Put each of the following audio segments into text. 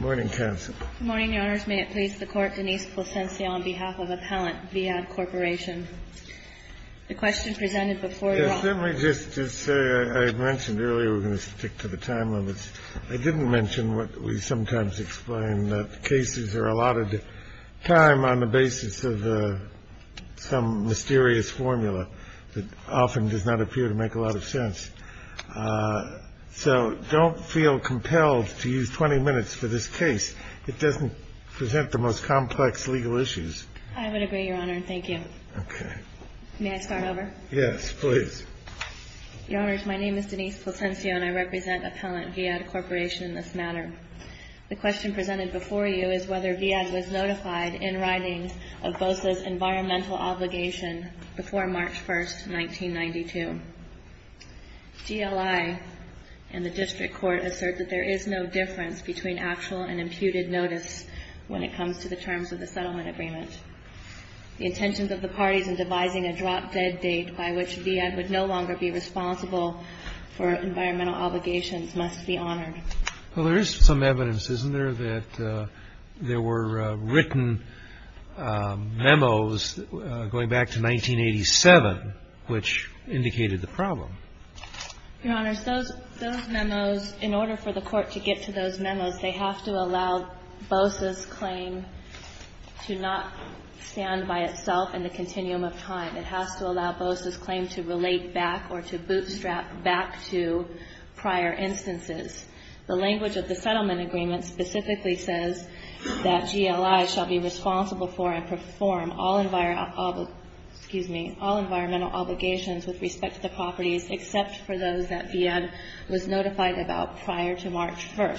Morning, counsel. Morning, Your Honors. May it please the Court, Denise Placencia on behalf of Appellant Viad Corporation. The question presented before you. Let me just say I mentioned earlier we're going to stick to the time limits. I didn't mention what we sometimes explain that cases are allotted time on the basis of some mysterious formula that often does not appear to make a lot of sense. So don't feel compelled to use 20 minutes for this case. It doesn't present the most complex legal issues. I would agree, Your Honor, and thank you. May I start over? Yes, please. Your Honors, my name is Denise Placencia and I represent Appellant Viad Corporation in this matter. The question presented before you is whether Viad was notified in writing of Bosa's environmental obligation before March 1, 1992. GLI and the District Court assert that there is no difference between actual and imputed notice when it comes to the terms of the settlement agreement. The intentions of the parties in devising a drop-dead date by which Viad would no longer be responsible for environmental obligations must be honored. Well, there is some evidence, isn't there, that there were written memos going back to 1987 which indicated the problem? Your Honors, those memos, in order for the Court to get to those memos, they have to allow Bosa's claim to not stand by itself in the continuum of time. It has to allow Bosa's claim to relate back or to bootstrap back to prior instances. The language of the settlement agreement specifically says that GLI shall be responsible for and perform all environmental obligations with respect to the properties except for those that Viad was notified about prior to March 1.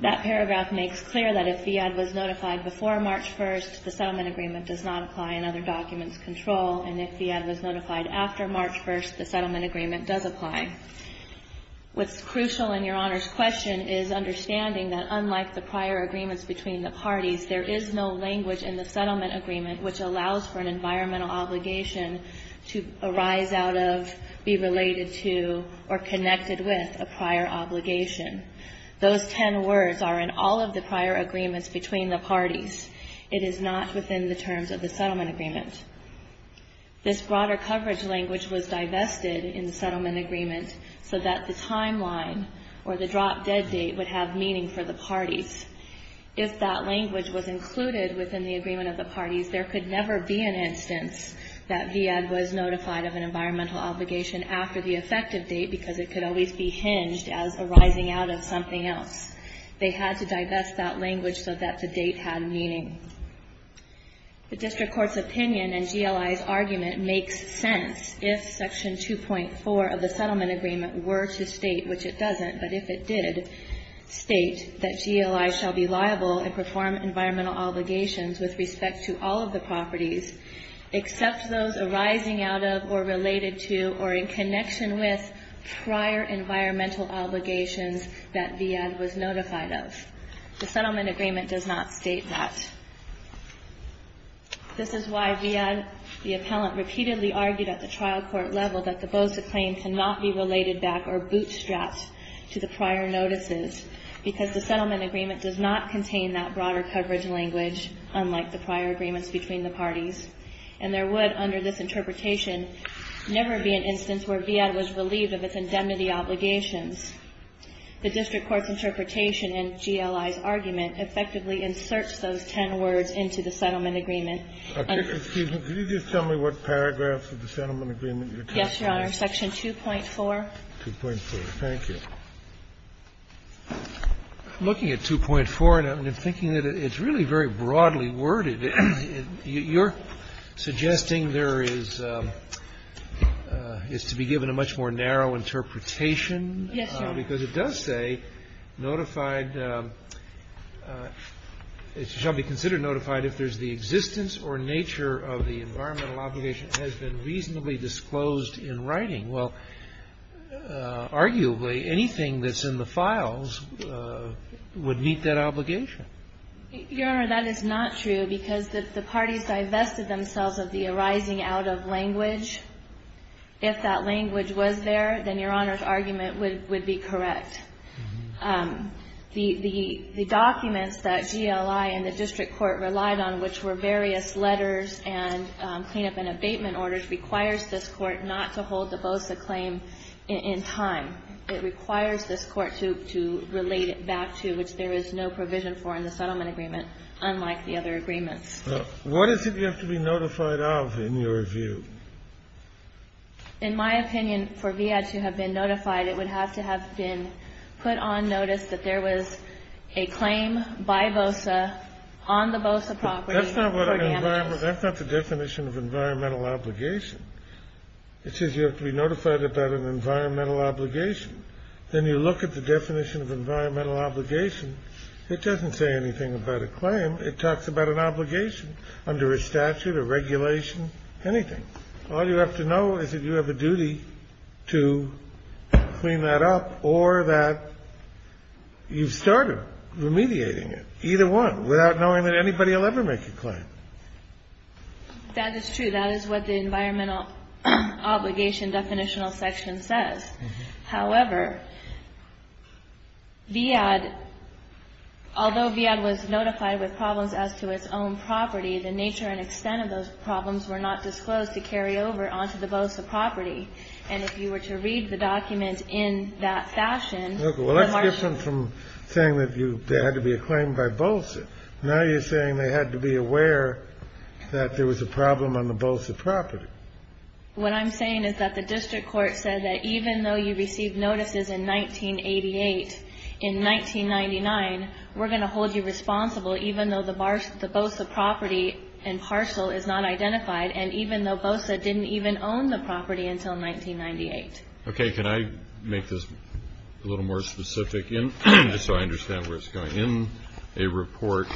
That paragraph makes clear that if Viad was notified before March 1, the settlement agreement does not apply in other documents' control, and if Viad was notified after March 1, the settlement agreement does apply. What's crucial in Your Honors' question is understanding that unlike the prior agreements between the parties, there is no language in the settlement agreement which allows for an environmental obligation to arise out of, be related to, or connected with a prior obligation. Those ten words are in all of the prior agreements between the parties. It is not within the terms of the settlement agreement. This broader coverage language was divested in the settlement agreement so that the timeline or the drop-dead date would have meaning for the parties. If that language was included within the agreement of the parties, there could never be an instance that Viad was notified of an environmental obligation after the effective date because it could always be hinged as arising out of something else. They had to divest that language so that the date had meaning. The district court's opinion and GLI's argument makes sense if Section 2.4 of the settlement agreement were to state, which it doesn't, but if it did, state that GLI shall be liable and perform environmental obligations with respect to all of the properties except those arising out of or related to or in connection with prior environmental obligations that Viad was notified of. The settlement agreement does not state that. This is why Viad, the appellant, repeatedly argued at the trial court level that the BOSA claim cannot be related back or bootstrapped to the prior notices because the settlement agreement does not contain that broader coverage language, unlike the prior agreements between the parties. And there would, under this interpretation, never be an instance where Viad was relieved of its indemnity obligations. The district court's interpretation and GLI's argument effectively inserts those ten words into the settlement agreement. Kennedy. Excuse me. Could you just tell me what paragraphs of the settlement agreement you're talking about? Yes, Your Honor. Section 2.4. 2.4. Thank you. I'm looking at 2.4, and I'm thinking that it's really very broadly worded. You're suggesting there is to be given a much more narrow interpretation. Because it does say notified, it shall be considered notified if there's the existence or nature of the environmental obligation has been reasonably disclosed in writing. Well, arguably, anything that's in the files would meet that obligation. Your Honor, that is not true because the parties divested themselves of the arising out of language. If that language was there, then Your Honor's argument would be correct. The documents that GLI and the district court relied on, which were various letters and cleanup and abatement orders, requires this Court not to hold the BOSA claim in time. It requires this Court to relate it back to, which there is no provision for in the settlement agreement, unlike the other agreements. What is it you have to be notified of in your view? In my opinion, for VIA to have been notified, it would have to have been put on notice that there was a claim by BOSA on the BOSA property for damages. That's not the definition of environmental obligation. It says you have to be notified about an environmental obligation. Then you look at the definition of environmental obligation. It doesn't say anything about a claim. It talks about an obligation under a statute, a regulation, anything. All you have to know is that you have a duty to clean that up or that you've started remediating it, either one, without knowing that anybody will ever make a claim. That is true. That is what the environmental obligation definitional section says. However, VIAD, although VIAD was notified with problems as to its own property, the nature and extent of those problems were not disclosed to carry over onto the BOSA property. And if you were to read the document in that fashion, the marginal ---- Well, that's different from saying that there had to be a claim by BOSA. Now you're saying they had to be aware that there was a problem on the BOSA property. What I'm saying is that the district court said that even though you received notices in 1988, in 1999, we're going to hold you responsible even though the BOSA property and parcel is not identified, and even though BOSA didn't even own the property until 1998. Okay, can I make this a little more specific just so I understand where it's going? In a report,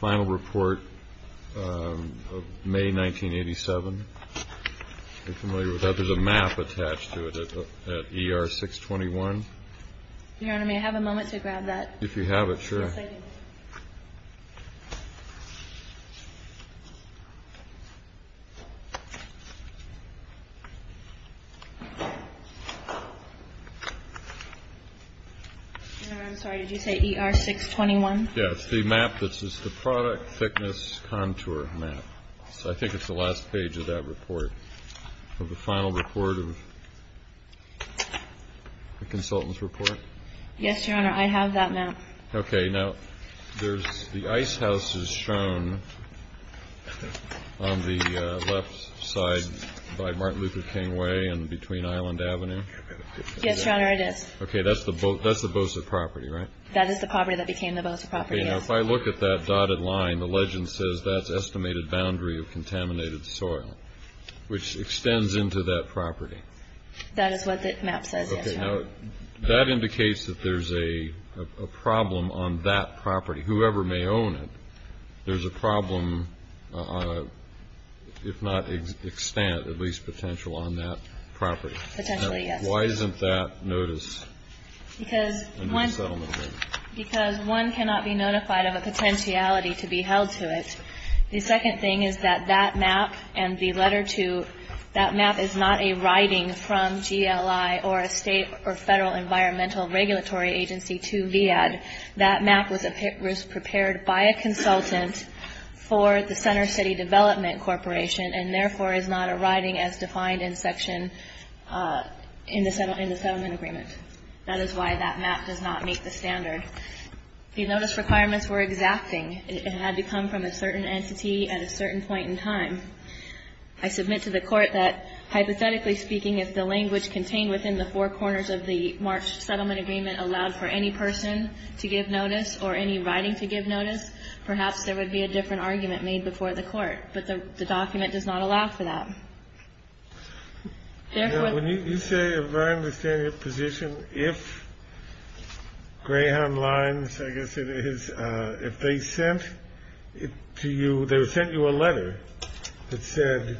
final report of May 1987, if you're familiar with that, there's a map attached to it at ER 621. Your Honor, may I have a moment to grab that? If you have it, sure. Yes, I do. Your Honor, I'm sorry. Did you say ER 621? Yes. The map that says the product thickness contour map. So I think it's the last page of that report, of the final report of the consultant's report. Yes, Your Honor. I have that map. Okay. Now, there's the ice house is shown on the left side by Martin Luther King Way and between Island Avenue. Yes, Your Honor, it is. Okay, that's the BOSA property, right? That is the property that became the BOSA property, yes. Now, if I look at that dotted line, the legend says that's estimated boundary of contaminated soil, which extends into that property. That is what the map says, yes, Your Honor. Okay. Now, that indicates that there's a problem on that property. Whoever may own it, there's a problem, if not extent, at least potential on that property. Potentially, yes. Why isn't that notice? Because one cannot be notified of a potentiality to be held to it. The second thing is that that map and the letter to that map is not a writing from GLI or a state or federal environmental regulatory agency to VAD. That map was prepared by a consultant for the Center City Development Corporation and, therefore, is not a writing as defined in section in the settlement agreement. That is why that map does not meet the standard. The notice requirements were exacting. It had to come from a certain entity at a certain point in time. I submit to the Court that, hypothetically speaking, if the language contained within the four corners of the March settlement agreement allowed for any person to give notice or any writing to give notice, perhaps there would be a different argument made before the Court. But the document does not allow for that. Therefore the ---- You say, if I understand your position, if Greyhound Lines, I guess it is, if they sent it to you, they sent you a letter that said,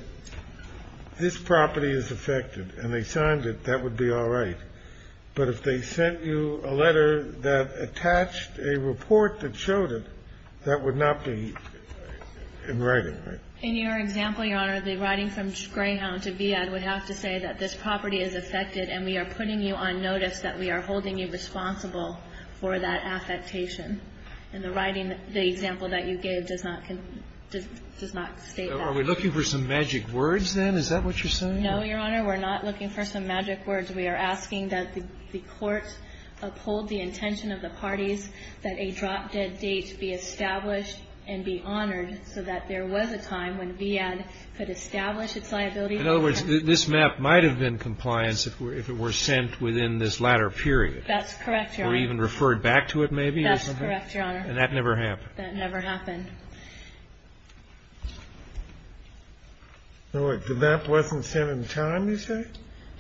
this property is affected, and they signed it, that would be all right. But if they sent you a letter that attached a report that showed it, that would not be in writing, right? In your example, Your Honor, the writing from Greyhound to VAD would have to say that this property is affected and we are putting you on notice that we are holding you responsible for that affectation. In the writing, the example that you gave does not state that. Are we looking for some magic words, then? Is that what you're saying? No, Your Honor. We're not looking for some magic words. We are asking that the Court uphold the intention of the parties that a drop-dead date be established and be honored so that there was a time when VAD could establish its liability. In other words, this map might have been compliance if it were sent within this latter period. That's correct, Your Honor. Or even referred back to it, maybe? That's correct, Your Honor. And that never happened? That never happened. The map wasn't sent in time, you say?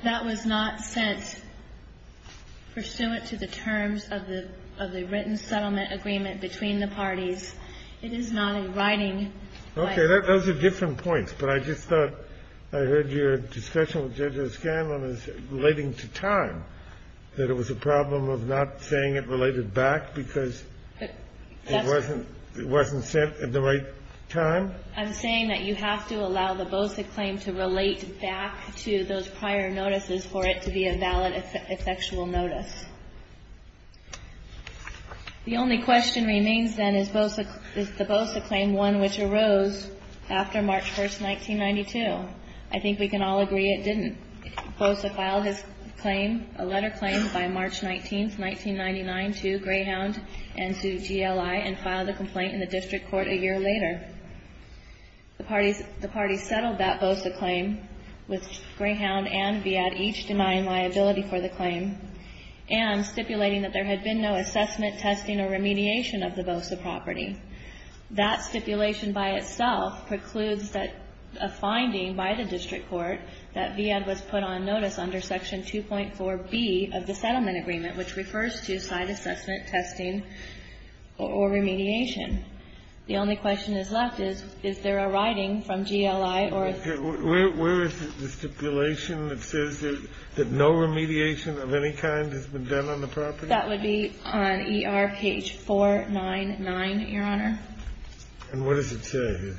That was not sent pursuant to the terms of the written settlement agreement between the parties. It is not in writing. Okay. Those are different points. But I just thought I heard your discussion with Judge O'Scanlan relating to time, that it was a problem of not saying it related back because it wasn't sent at the right time? I'm saying that you have to allow the Bosa claim to relate back to those prior notices for it to be a valid effectual notice. The only question remains, then, is the Bosa claim one which arose after March 1, 1992? I think we can all agree it didn't. Bosa filed his claim, a letter claimed by March 19, 1999, to Greyhound and to GLI and the parties settled that Bosa claim with Greyhound and V.E.A.D. each denying liability for the claim and stipulating that there had been no assessment, testing, or remediation of the Bosa property. That stipulation by itself precludes a finding by the district court that V.E.A.D. was put on notice under Section 2.4B of the settlement agreement, which refers to side assessment, testing, or remediation. The only question that's left is, is there a writing from GLI or a ---- Where is the stipulation that says that no remediation of any kind has been done on the property? That would be on ER page 499, Your Honor. And what does it say?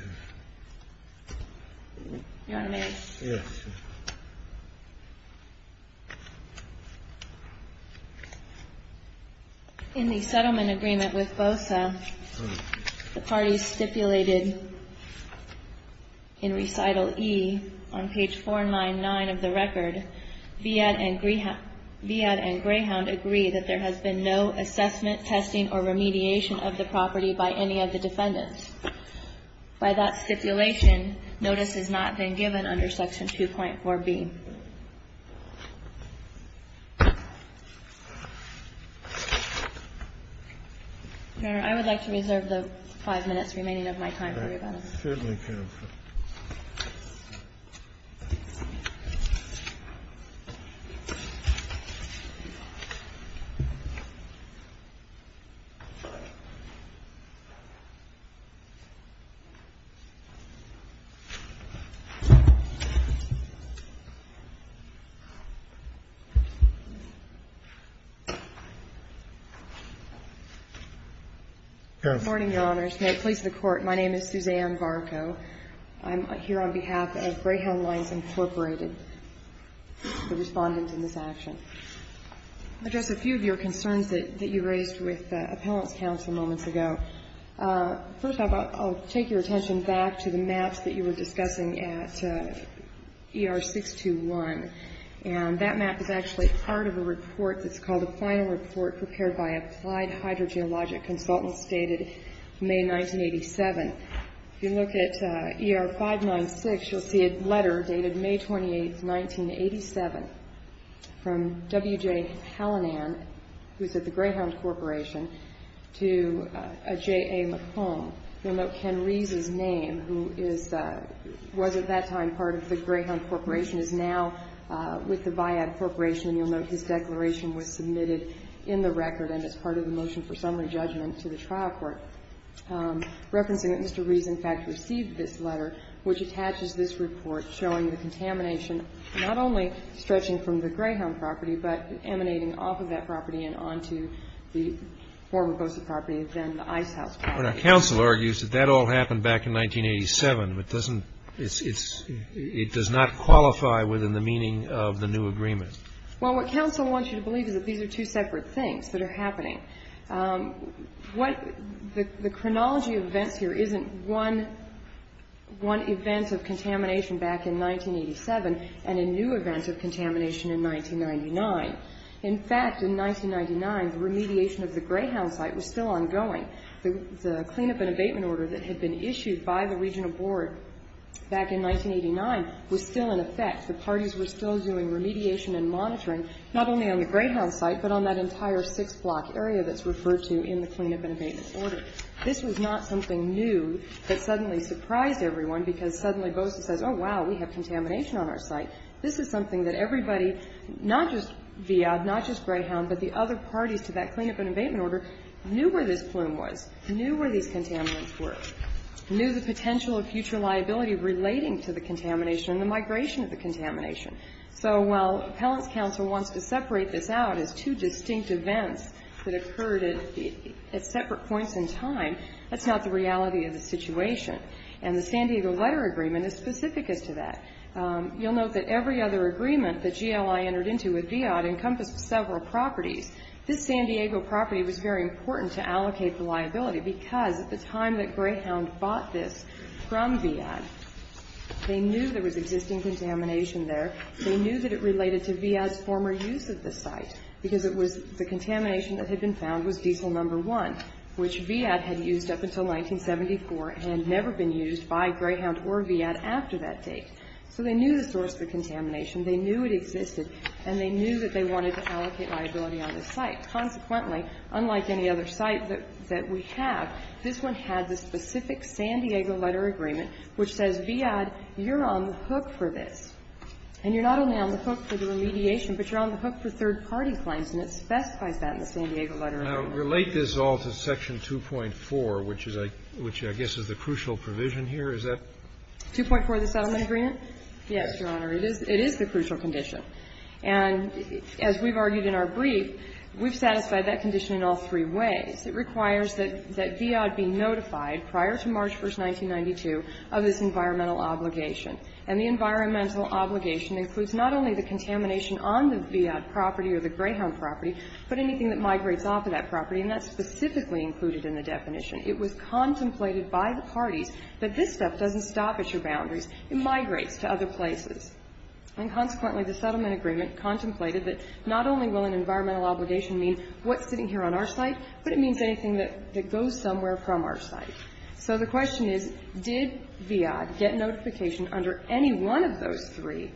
Your Honor, may I? Yes. In the settlement agreement with Bosa, the parties stipulated in Recital E on page 499 of the record, V.E.A.D. and Greyhound agree that there has been no assessment, testing, or remediation of the property by any of the defendants. By that stipulation, notice has not been given under Section 2.4B. Your Honor, I would like to reserve the 5 minutes remaining of my time for rebuttal. Certainly, counsel. Counsel. Good morning, Your Honors. May it please the Court, my name is Suzanne Varco. I'm here on behalf of Greyhound Lines, Inc., the Respondent in this action. I'll address a few of your concerns that you raised with Appellant's counsel moments ago. First off, I'll take your attention back to the maps that you were discussing at ER 621. And that map is actually part of a report that's called a final report prepared by Applied Hydrogeologic Consultants dated May 1987. If you look at ER 596, you'll see a letter dated May 28th, 1987, from W.J. Hallinan, who's at the Greyhound Corporation, to J.A. McComb. You'll note Ken Rees' name, who was at that time part of the Greyhound Corporation, is now with the Viad Corporation. And you'll note his declaration was submitted in the record and as part of the motion for summary judgment to the trial court, referencing that Mr. Rees, in fact, received this letter, which attaches this report showing the contamination not only stretching from the Greyhound property, but emanating off of that property and onto the former ghosted property, then the Ice House property. But our counsel argues that that all happened back in 1987. It doesn't – it's – it does not qualify within the meaning of the new agreement. Well, what counsel wants you to believe is that these are two separate things that are happening. What – the chronology of events here isn't one event of contamination back in 1987 and a new event of contamination in 1999. In fact, in 1999, the remediation of the Greyhound site was still ongoing. The clean-up and abatement order that had been issued by the regional board back in 1989 was still in effect. The parties were still doing remediation and monitoring, not only on the Greyhound site, but on that entire six-block area that's referred to in the clean-up and abatement order. This was not something new that suddenly surprised everyone, because suddenly Bosa says, oh, wow, we have contamination on our site. This is something that everybody, not just Viad, not just Greyhound, but the other parties to that clean-up and abatement order, knew where this plume was, knew where these contaminants were, knew the potential of future liability relating to the contamination and the migration of the contamination. So while Appellant's counsel wants to separate this out as two distinct events that occurred at separate points in time, that's not the reality of the situation. And the San Diego letter agreement is specific as to that. You'll note that every other agreement that GLI entered into with Viad encompassed several properties. This San Diego property was very important to allocate the liability, because at the time that Greyhound bought this from Viad, they knew there was existing contamination there. They knew that it related to Viad's former use of the site, because it was the contamination that had been found was diesel number one, which Viad had used up until 1974 and had never been used by Greyhound or Viad after that date. So they knew the source of the contamination. They knew it existed. And they knew that they wanted to allocate liability on the site. Consequently, unlike any other site that we have, this one had the specific San Diego letter agreement, which says, Viad, you're on the hook for this. And you're not only on the hook for the remediation, but you're on the hook for third-party claims. And it specifies that in the San Diego letter agreement. Now, relate this all to section 2.4, which is a – which I guess is the crucial provision here. Is that – 2.4, the settlement agreement? Yes, Your Honor. It is the crucial condition. And as we've argued in our brief, we've satisfied that condition in all three ways. It requires that Viad be notified prior to March 1, 1992, of this environmental obligation. And the environmental obligation includes not only the contamination on the Viad property or the Greyhound property, but anything that migrates off of that property. And that's specifically included in the definition. It was contemplated by the parties that this stuff doesn't stop at your boundaries. It migrates to other places. And consequently, the settlement agreement contemplated that not only will an environmental obligation mean what's sitting here on our site, but it means anything that goes somewhere from our site. So the question is, did Viad get notification under any one of those three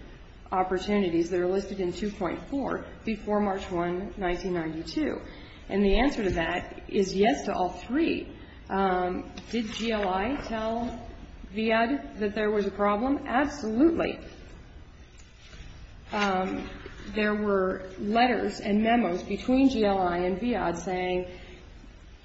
opportunities that are listed in 2.4 before March 1, 1992? And the answer to that is yes to all three. Did GLI tell Viad that there was a problem? Absolutely. There were letters and memos between GLI and Viad saying,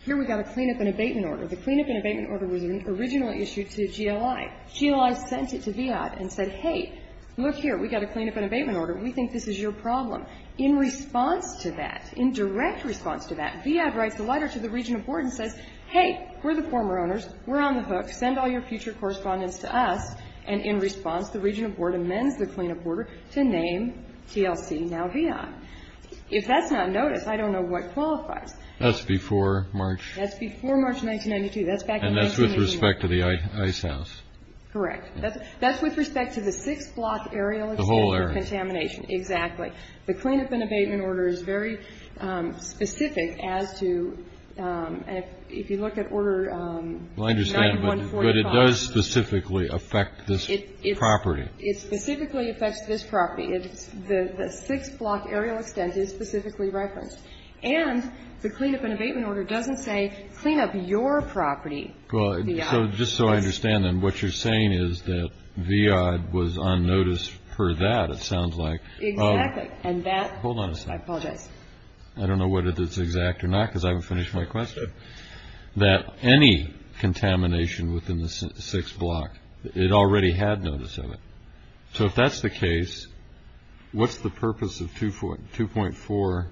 here, we've got to clean up an abatement order. The clean-up and abatement order was an original issue to GLI. GLI sent it to Viad and said, hey, look here, we've got to clean up an abatement order. We think this is your problem. In response to that, in direct response to that, Viad writes a letter to the regional board and says, hey, we're the former owners. We're on the hook. Send all your future correspondence to us. And in response, the regional board amends the clean-up order to name TLC now Viad. If that's not noticed, I don't know what qualifies. That's before March. That's before March 1992. That's back in 1991. And that's with respect to the ice house. Correct. That's with respect to the six-block area. The whole area. For contamination. Exactly. The clean-up and abatement order is very specific as to, if you look at order 9145. But it does specifically affect this property. It specifically affects this property. The six-block area is specifically referenced. And the clean-up and abatement order doesn't say clean up your property, Viad. So just so I understand, then, what you're saying is that Viad was on notice for that, it sounds like. Exactly. And that. Hold on a second. I apologize. I don't know whether that's exact or not, because I haven't finished my question. That any contamination within the six-block, it already had notice of it. So if that's the case, what's the purpose of 2.4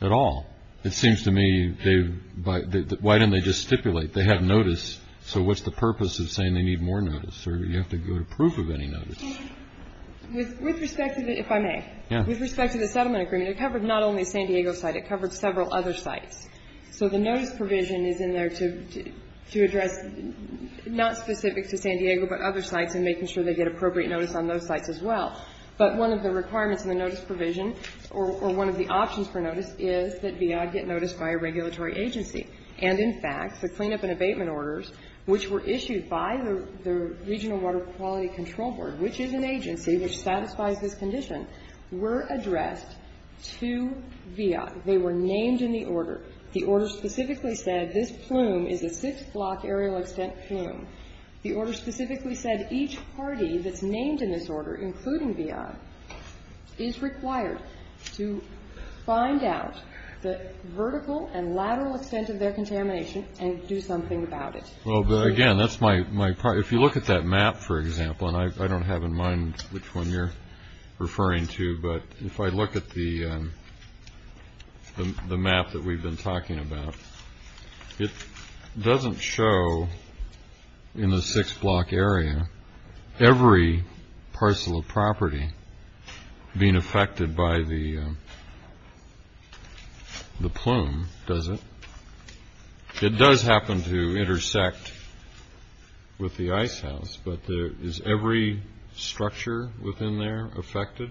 at all? It seems to me they've... Why didn't they just stipulate they had notice? So what's the purpose of saying they need more notice? Or do you have to go to proof of any notice? With respect to the... if I may. Yeah. With respect to the settlement agreement, it covered not only the San Diego site. It covered several other sites. So the notice provision is in there to address not specific to San Diego but other sites and making sure they get appropriate notice on those sites as well. But one of the requirements in the notice provision, or one of the options for notice, is that Viad get noticed by a regulatory agency. And, in fact, the clean-up and abatement orders, which were issued by the Regional Water Quality Control Board, which is an agency which satisfies this condition, were addressed to Viad. They were named in the order. The order specifically said this plume is a six-block aerial extent plume. The order specifically said each party that's named in this order, including Viad, is required to find out the vertical and lateral extent of their contamination and do something about it. Well, again, that's my... if you look at that map, for example, and I don't have in mind which one you're referring to, but if I look at the map that we've been talking about, it doesn't show in the six-block area every parcel of property being affected by the plume, does it? It does happen to intersect with the ice house, but is every structure within there affected?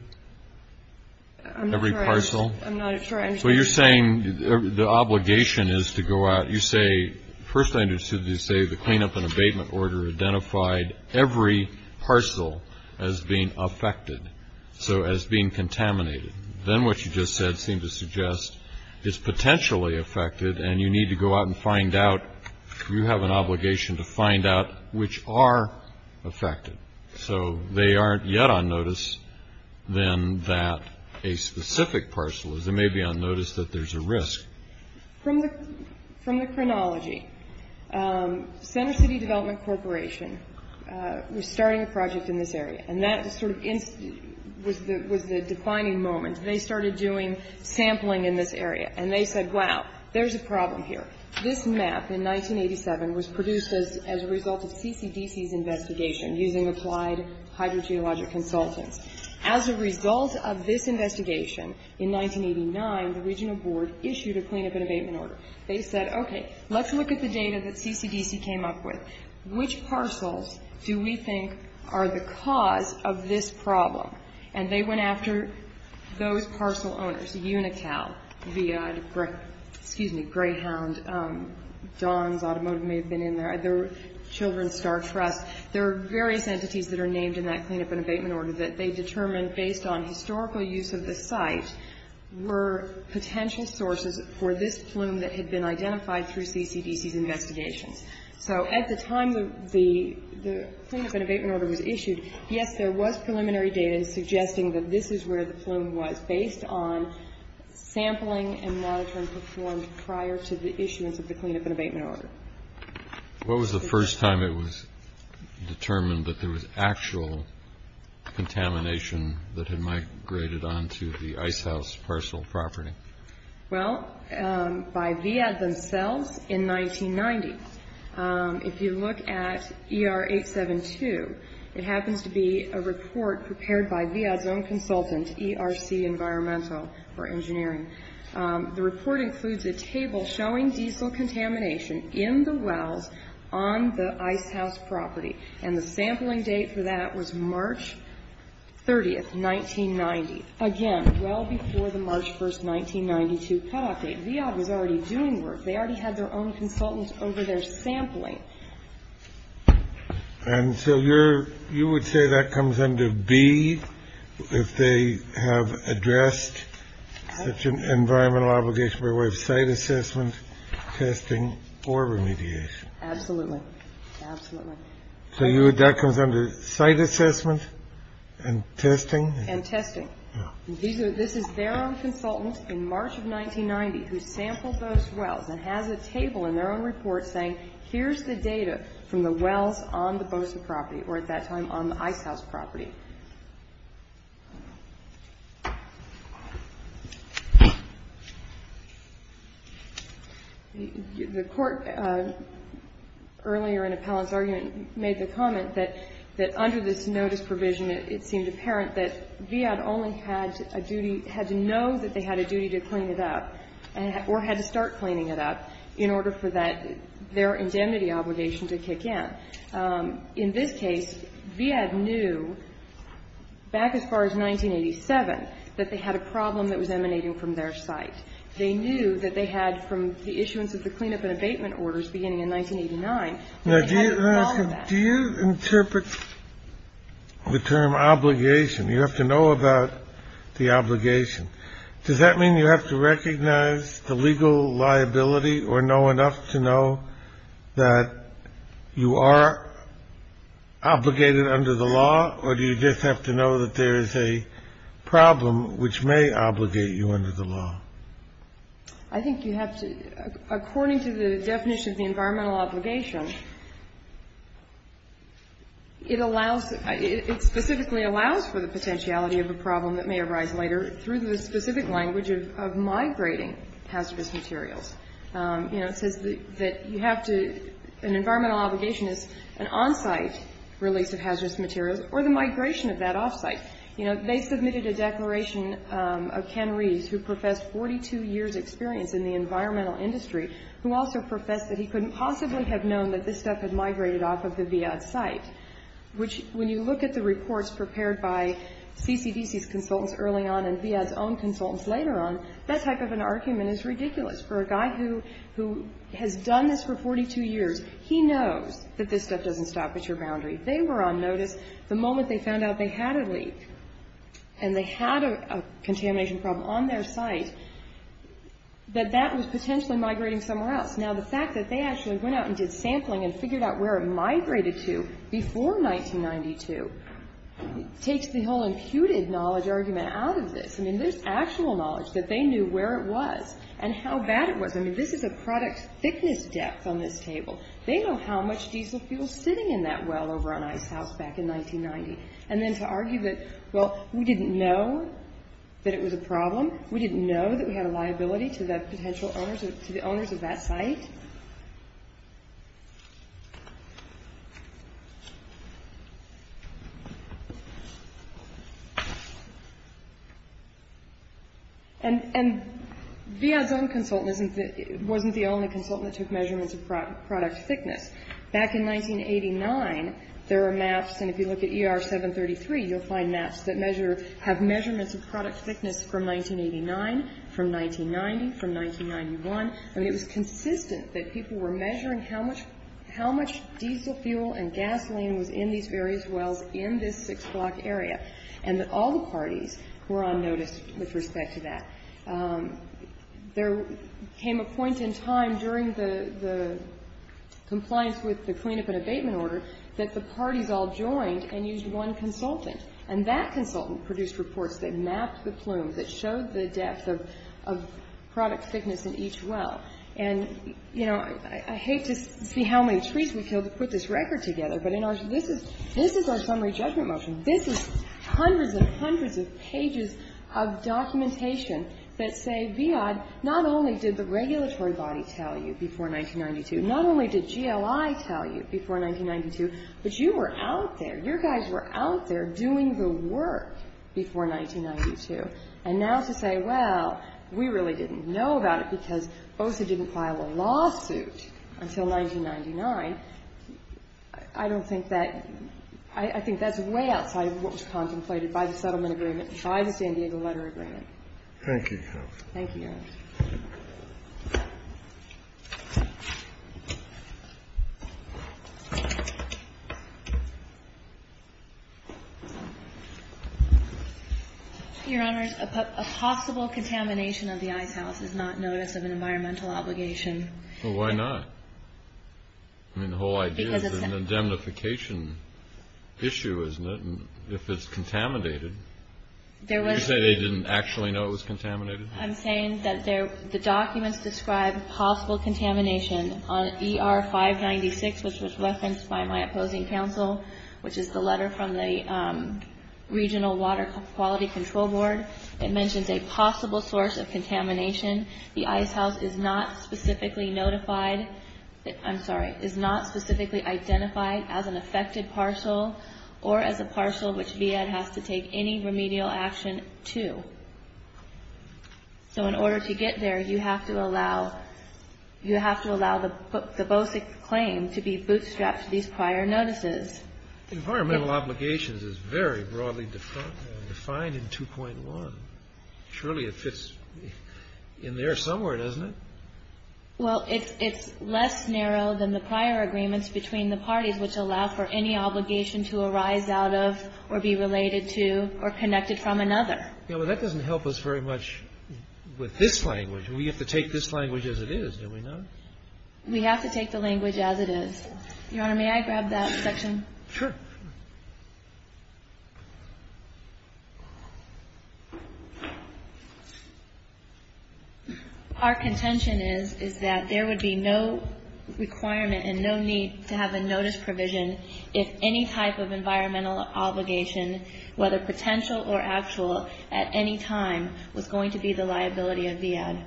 Every parcel? I'm not sure I understand. Well, you're saying the obligation is to go out... You say, first I understood you say the clean-up and abatement order identified every parcel as being affected, so as being contaminated. Then what you just said seemed to suggest is potentially affected, and you need to go out and find out, you have an obligation to find out which are affected. So they aren't yet on notice, then, that a specific parcel is. They may be on notice that there's a risk. From the chronology, Center City Development Corporation was starting a project in this area, and that sort of was the defining moment. They started doing sampling in this area, and they said, wow, there's a problem here. This map in 1987 was produced as a result of CCDC's investigation using applied hydrogeologic consultants. As a result of this investigation, in 1989, the regional board issued a clean-up and abatement order. They said, okay, let's look at the data that CCDC came up with. Which parcels do we think are the cause of this problem? And they went after those parcel owners, UNICAL, VIA, excuse me, Greyhound, Don's Automotive may have been in there, Children's Star Trust. There are various entities that are named in that clean-up and abatement order that they determined, based on historical use of the site, were potential sources for this plume that had been identified through CCDC's investigations. So at the time the clean-up and abatement order was issued, yes, there was preliminary data suggesting that this is where the plume was, based on sampling and monitoring performed prior to the issuance of the clean-up and abatement order. What was the first time it was determined that there was actual contamination that had migrated onto the Ice House parcel property? Well, by VIA themselves in 1990. If you look at ER 872, it happens to be a report prepared by VIA's own consultant, ERC Environmental for Engineering. The report includes a table showing diesel contamination in the wells on the Ice House property. And the sampling date for that was March 30, 1990. Again, well before the March 1, 1992 cutoff date. VIA was already doing work. They already had their own consultant over there sampling. And so you would say that comes under B, if they have addressed such an environmental obligation by way of site assessment, testing, or remediation? Absolutely. Absolutely. So that comes under site assessment and testing? And testing. This is their own consultant in March of 1990 who sampled those wells and has a table in their own report saying here's the data from the wells on the Bosa property, or at that time on the Ice House property. The Court earlier in Appellant's argument made the comment that under this notice provision, it seemed apparent that VIA only had a duty, had to know that they had a duty to clean it up, or had to start cleaning it up in order for that, their indemnity obligation to kick in. In this case, VIA knew back as far as 1987 that they had a problem that was emanating from their site. They knew that they had, from the issuance of the cleanup and abatement orders beginning in 1989, they had all of that. Do you interpret the term obligation? You have to know about the obligation. Does that mean you have to recognize the legal liability or know enough to know that you are obligated under the law, or do you just have to know that there is a problem which may obligate you under the law? I think you have to, according to the definition of the environmental obligation, it allows, it specifically allows for the potentiality of a problem that may arise later through the specific language of migrating hazardous materials. You know, it says that you have to, an environmental obligation is an on-site release of hazardous materials or the migration of that off-site. You know, they submitted a declaration of Ken Reeves who professed 42 years' experience in the environmental industry who also professed that he couldn't possibly have known that this stuff had migrated off of the VIA site, which when you look at the reports prepared by CCDC's consultants early on and VIA's own consultants later on, that type of an argument is ridiculous. For a guy who has done this for 42 years, he knows that this stuff doesn't stop at your boundary. They were on notice the moment they found out they had a leak and they had a contamination problem on their site that that was potentially migrating somewhere else. Now, the fact that they actually went out and did sampling and figured out where it migrated to before 1992 takes the whole imputed knowledge argument out of this. I mean, there's actual knowledge that they knew where it was and how bad it was. I mean, this is a product thickness depth on this table. They know how much diesel fuel is sitting in that well over on Ice House back in 1990. And then to argue that, well, we didn't know that it was a problem, we didn't know that we had a liability to the potential owners of that site. And VIA's own consultant wasn't the only consultant that took measurements of product thickness. Back in 1989, there are maps, and if you look at ER 733, you'll find maps that measure or have measurements of product thickness from 1989, from 1990, from 1991. I mean, it was consistent that people were measuring how much diesel fuel and gasoline was in these various wells in this six-block area, and that all the parties were on notice with respect to that. There came a point in time during the compliance with the cleanup and abatement order that the parties all joined and used one consultant, and that consultant produced reports that mapped the plumes, that showed the depth of product thickness in each well. And, you know, I hate to see how many trees we killed to put this record together, but this is our summary judgment motion. This is hundreds and hundreds of pages of documentation that say VIA, not only did the regulatory body tell you before 1992, not only did GLI tell you before 1992, but you were out there. You guys were out there doing the work before 1992. And now to say, well, we really didn't know about it because OSA didn't file a lawsuit until 1999, I don't think that – I think that's way outside of what was contemplated by the settlement agreement and by the San Diego letter agreement. Thank you, Your Honor. Thank you, Your Honor. Your Honor, a possible contamination of the Ice House is not notice of an environmental obligation. Well, why not? I mean, the whole idea is an indemnification issue, isn't it, if it's contaminated? You say they didn't actually know it was contaminated? I'm saying that the documents describe possible contamination on ER-596, which was referenced by my opposing counsel, which is the letter from the Regional Water Quality Control Board. It mentions a possible source of contamination. The Ice House is not specifically notified – I'm sorry, is not specifically identified as an affected parcel or as a parcel which VAD has to take any remedial action to. So in order to get there, you have to allow the BOSIC claim to be bootstrapped to these prior notices. Environmental obligations is very broadly defined in 2.1. Surely it fits in there somewhere, doesn't it? Well, it's less narrow than the prior agreements between the parties, which allow for any obligation to arise out of or be related to or connected from another. Yeah, but that doesn't help us very much with this language. We have to take this language as it is, don't we not? We have to take the language as it is. Your Honor, may I grab that section? Sure. Our contention is that there would be no requirement and no need to have a notice provision if any type of environmental obligation, whether potential or actual, at any time was going to be the liability of VAD.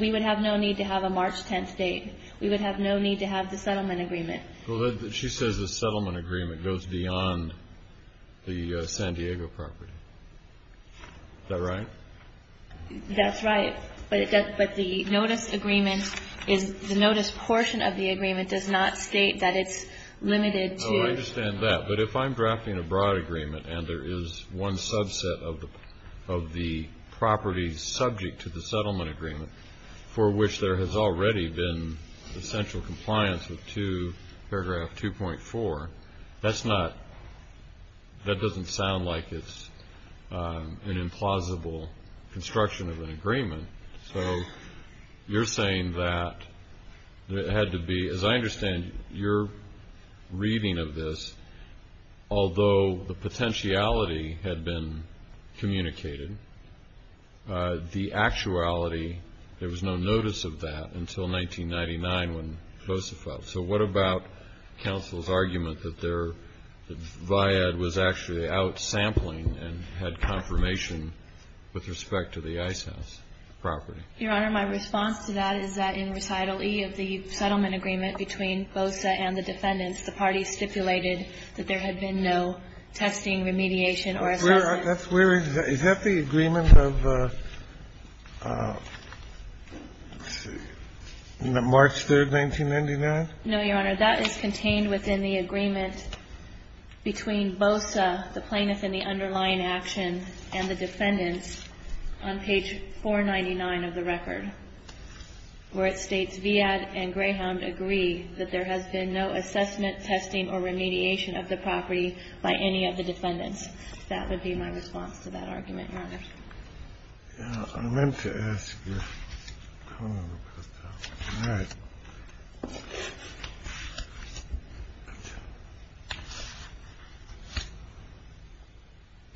We would have no need to have a March 10th date. We would have no need to have the settlement agreement. Well, she says the settlement agreement. It goes beyond the San Diego property. Is that right? That's right. But the notice agreement is the notice portion of the agreement does not state that it's limited to. Oh, I understand that. But if I'm drafting a broad agreement and there is one subset of the property subject to the settlement agreement for which there has already been essential compliance with paragraph 2.4, that doesn't sound like it's an implausible construction of an agreement. So you're saying that it had to be, as I understand your reading of this, although the potentiality had been communicated, the actuality, there was no notice of that until 1999 when Joseph felt. So what about counsel's argument that their VAD was actually out sampling and had confirmation with respect to the Ice House property? Your Honor, my response to that is that in recital E of the settlement agreement between BOSA and the defendants, the parties stipulated that there had been no testing, remediation or assessment. That's where is that? Is that the agreement of March 3, 1999? No, Your Honor. That is contained within the agreement between BOSA, the plaintiff and the underlying action, and the defendants on page 499 of the record, where it states, VAD and Greyhound agree that there has been no assessment, testing or remediation of the property by any of the defendants. That would be my response to that argument, Your Honor. Yeah. I meant to ask your comment about that. All right.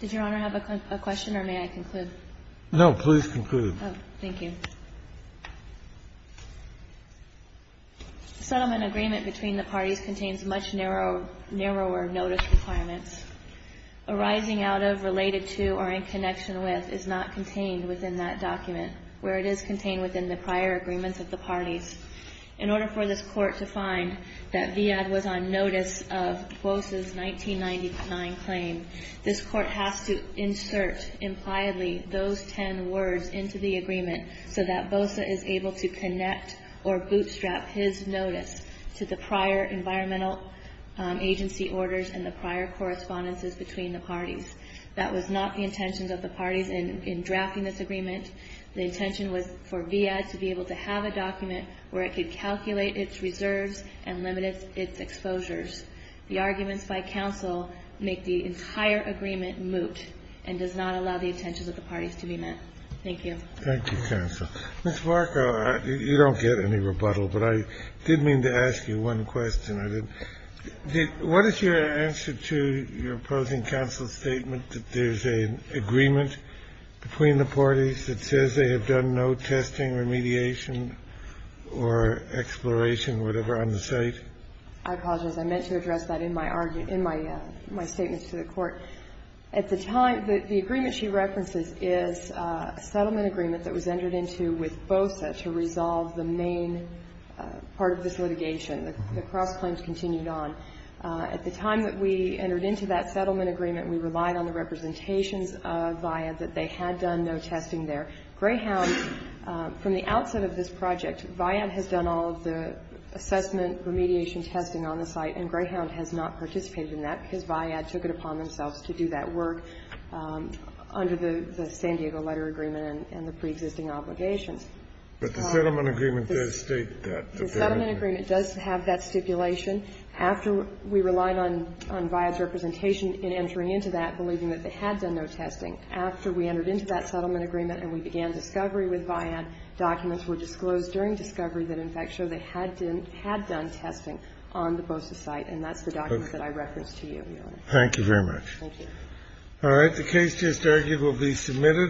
Did Your Honor have a question, or may I conclude? No, please conclude. Oh, thank you. The settlement agreement between the parties contains much narrower notice requirements. Arising out of, related to or in connection with is not contained within that document, where it is contained within the prior agreements of the parties. In order for this Court to find that VAD was on notice of BOSA's 1999 claim, this Court has to insert impliedly those ten words into the agreement so that BOSA is able to connect or bootstrap his notice to the prior environmental agency orders and the prior correspondences between the parties. That was not the intentions of the parties in drafting this agreement. The intention was for VAD to be able to have a document where it could calculate its reserves and limit its exposures. The arguments by counsel make the entire agreement moot and does not allow the intentions of the parties to be met. Thank you. Thank you, counsel. Ms. Barkow, you don't get any rebuttal, but I did mean to ask you one question. What is your answer to your opposing counsel's statement that there's an agreement between the parties that says they have done no testing, remediation, or exploration, whatever, on the site? I apologize. I meant to address that in my argument, in my statements to the Court. At the time, the agreement she references is a settlement agreement that was entered into with BOSA to resolve the main part of this litigation. The cross-claims continued on. At the time that we entered into that settlement agreement, we relied on the representations of VAD that they had done no testing there. Greyhound, from the outset of this project, VAD has done all of the assessment, remediation testing on the site, and Greyhound has not participated in that because VAD took it upon themselves to do that work under the San Diego Letter Agreement and the preexisting obligations. But the settlement agreement does state that. The settlement agreement does have that stipulation. After we relied on VAD's representation in entering into that, believing that they had done no testing, after we entered into that settlement agreement and we began discovery with VAD, documents were disclosed during discovery that in fact show they had done testing on the BOSA site, and that's the document that I referenced to you, Your Honor. Thank you very much. Thank you. All right. The case just argued will be submitted.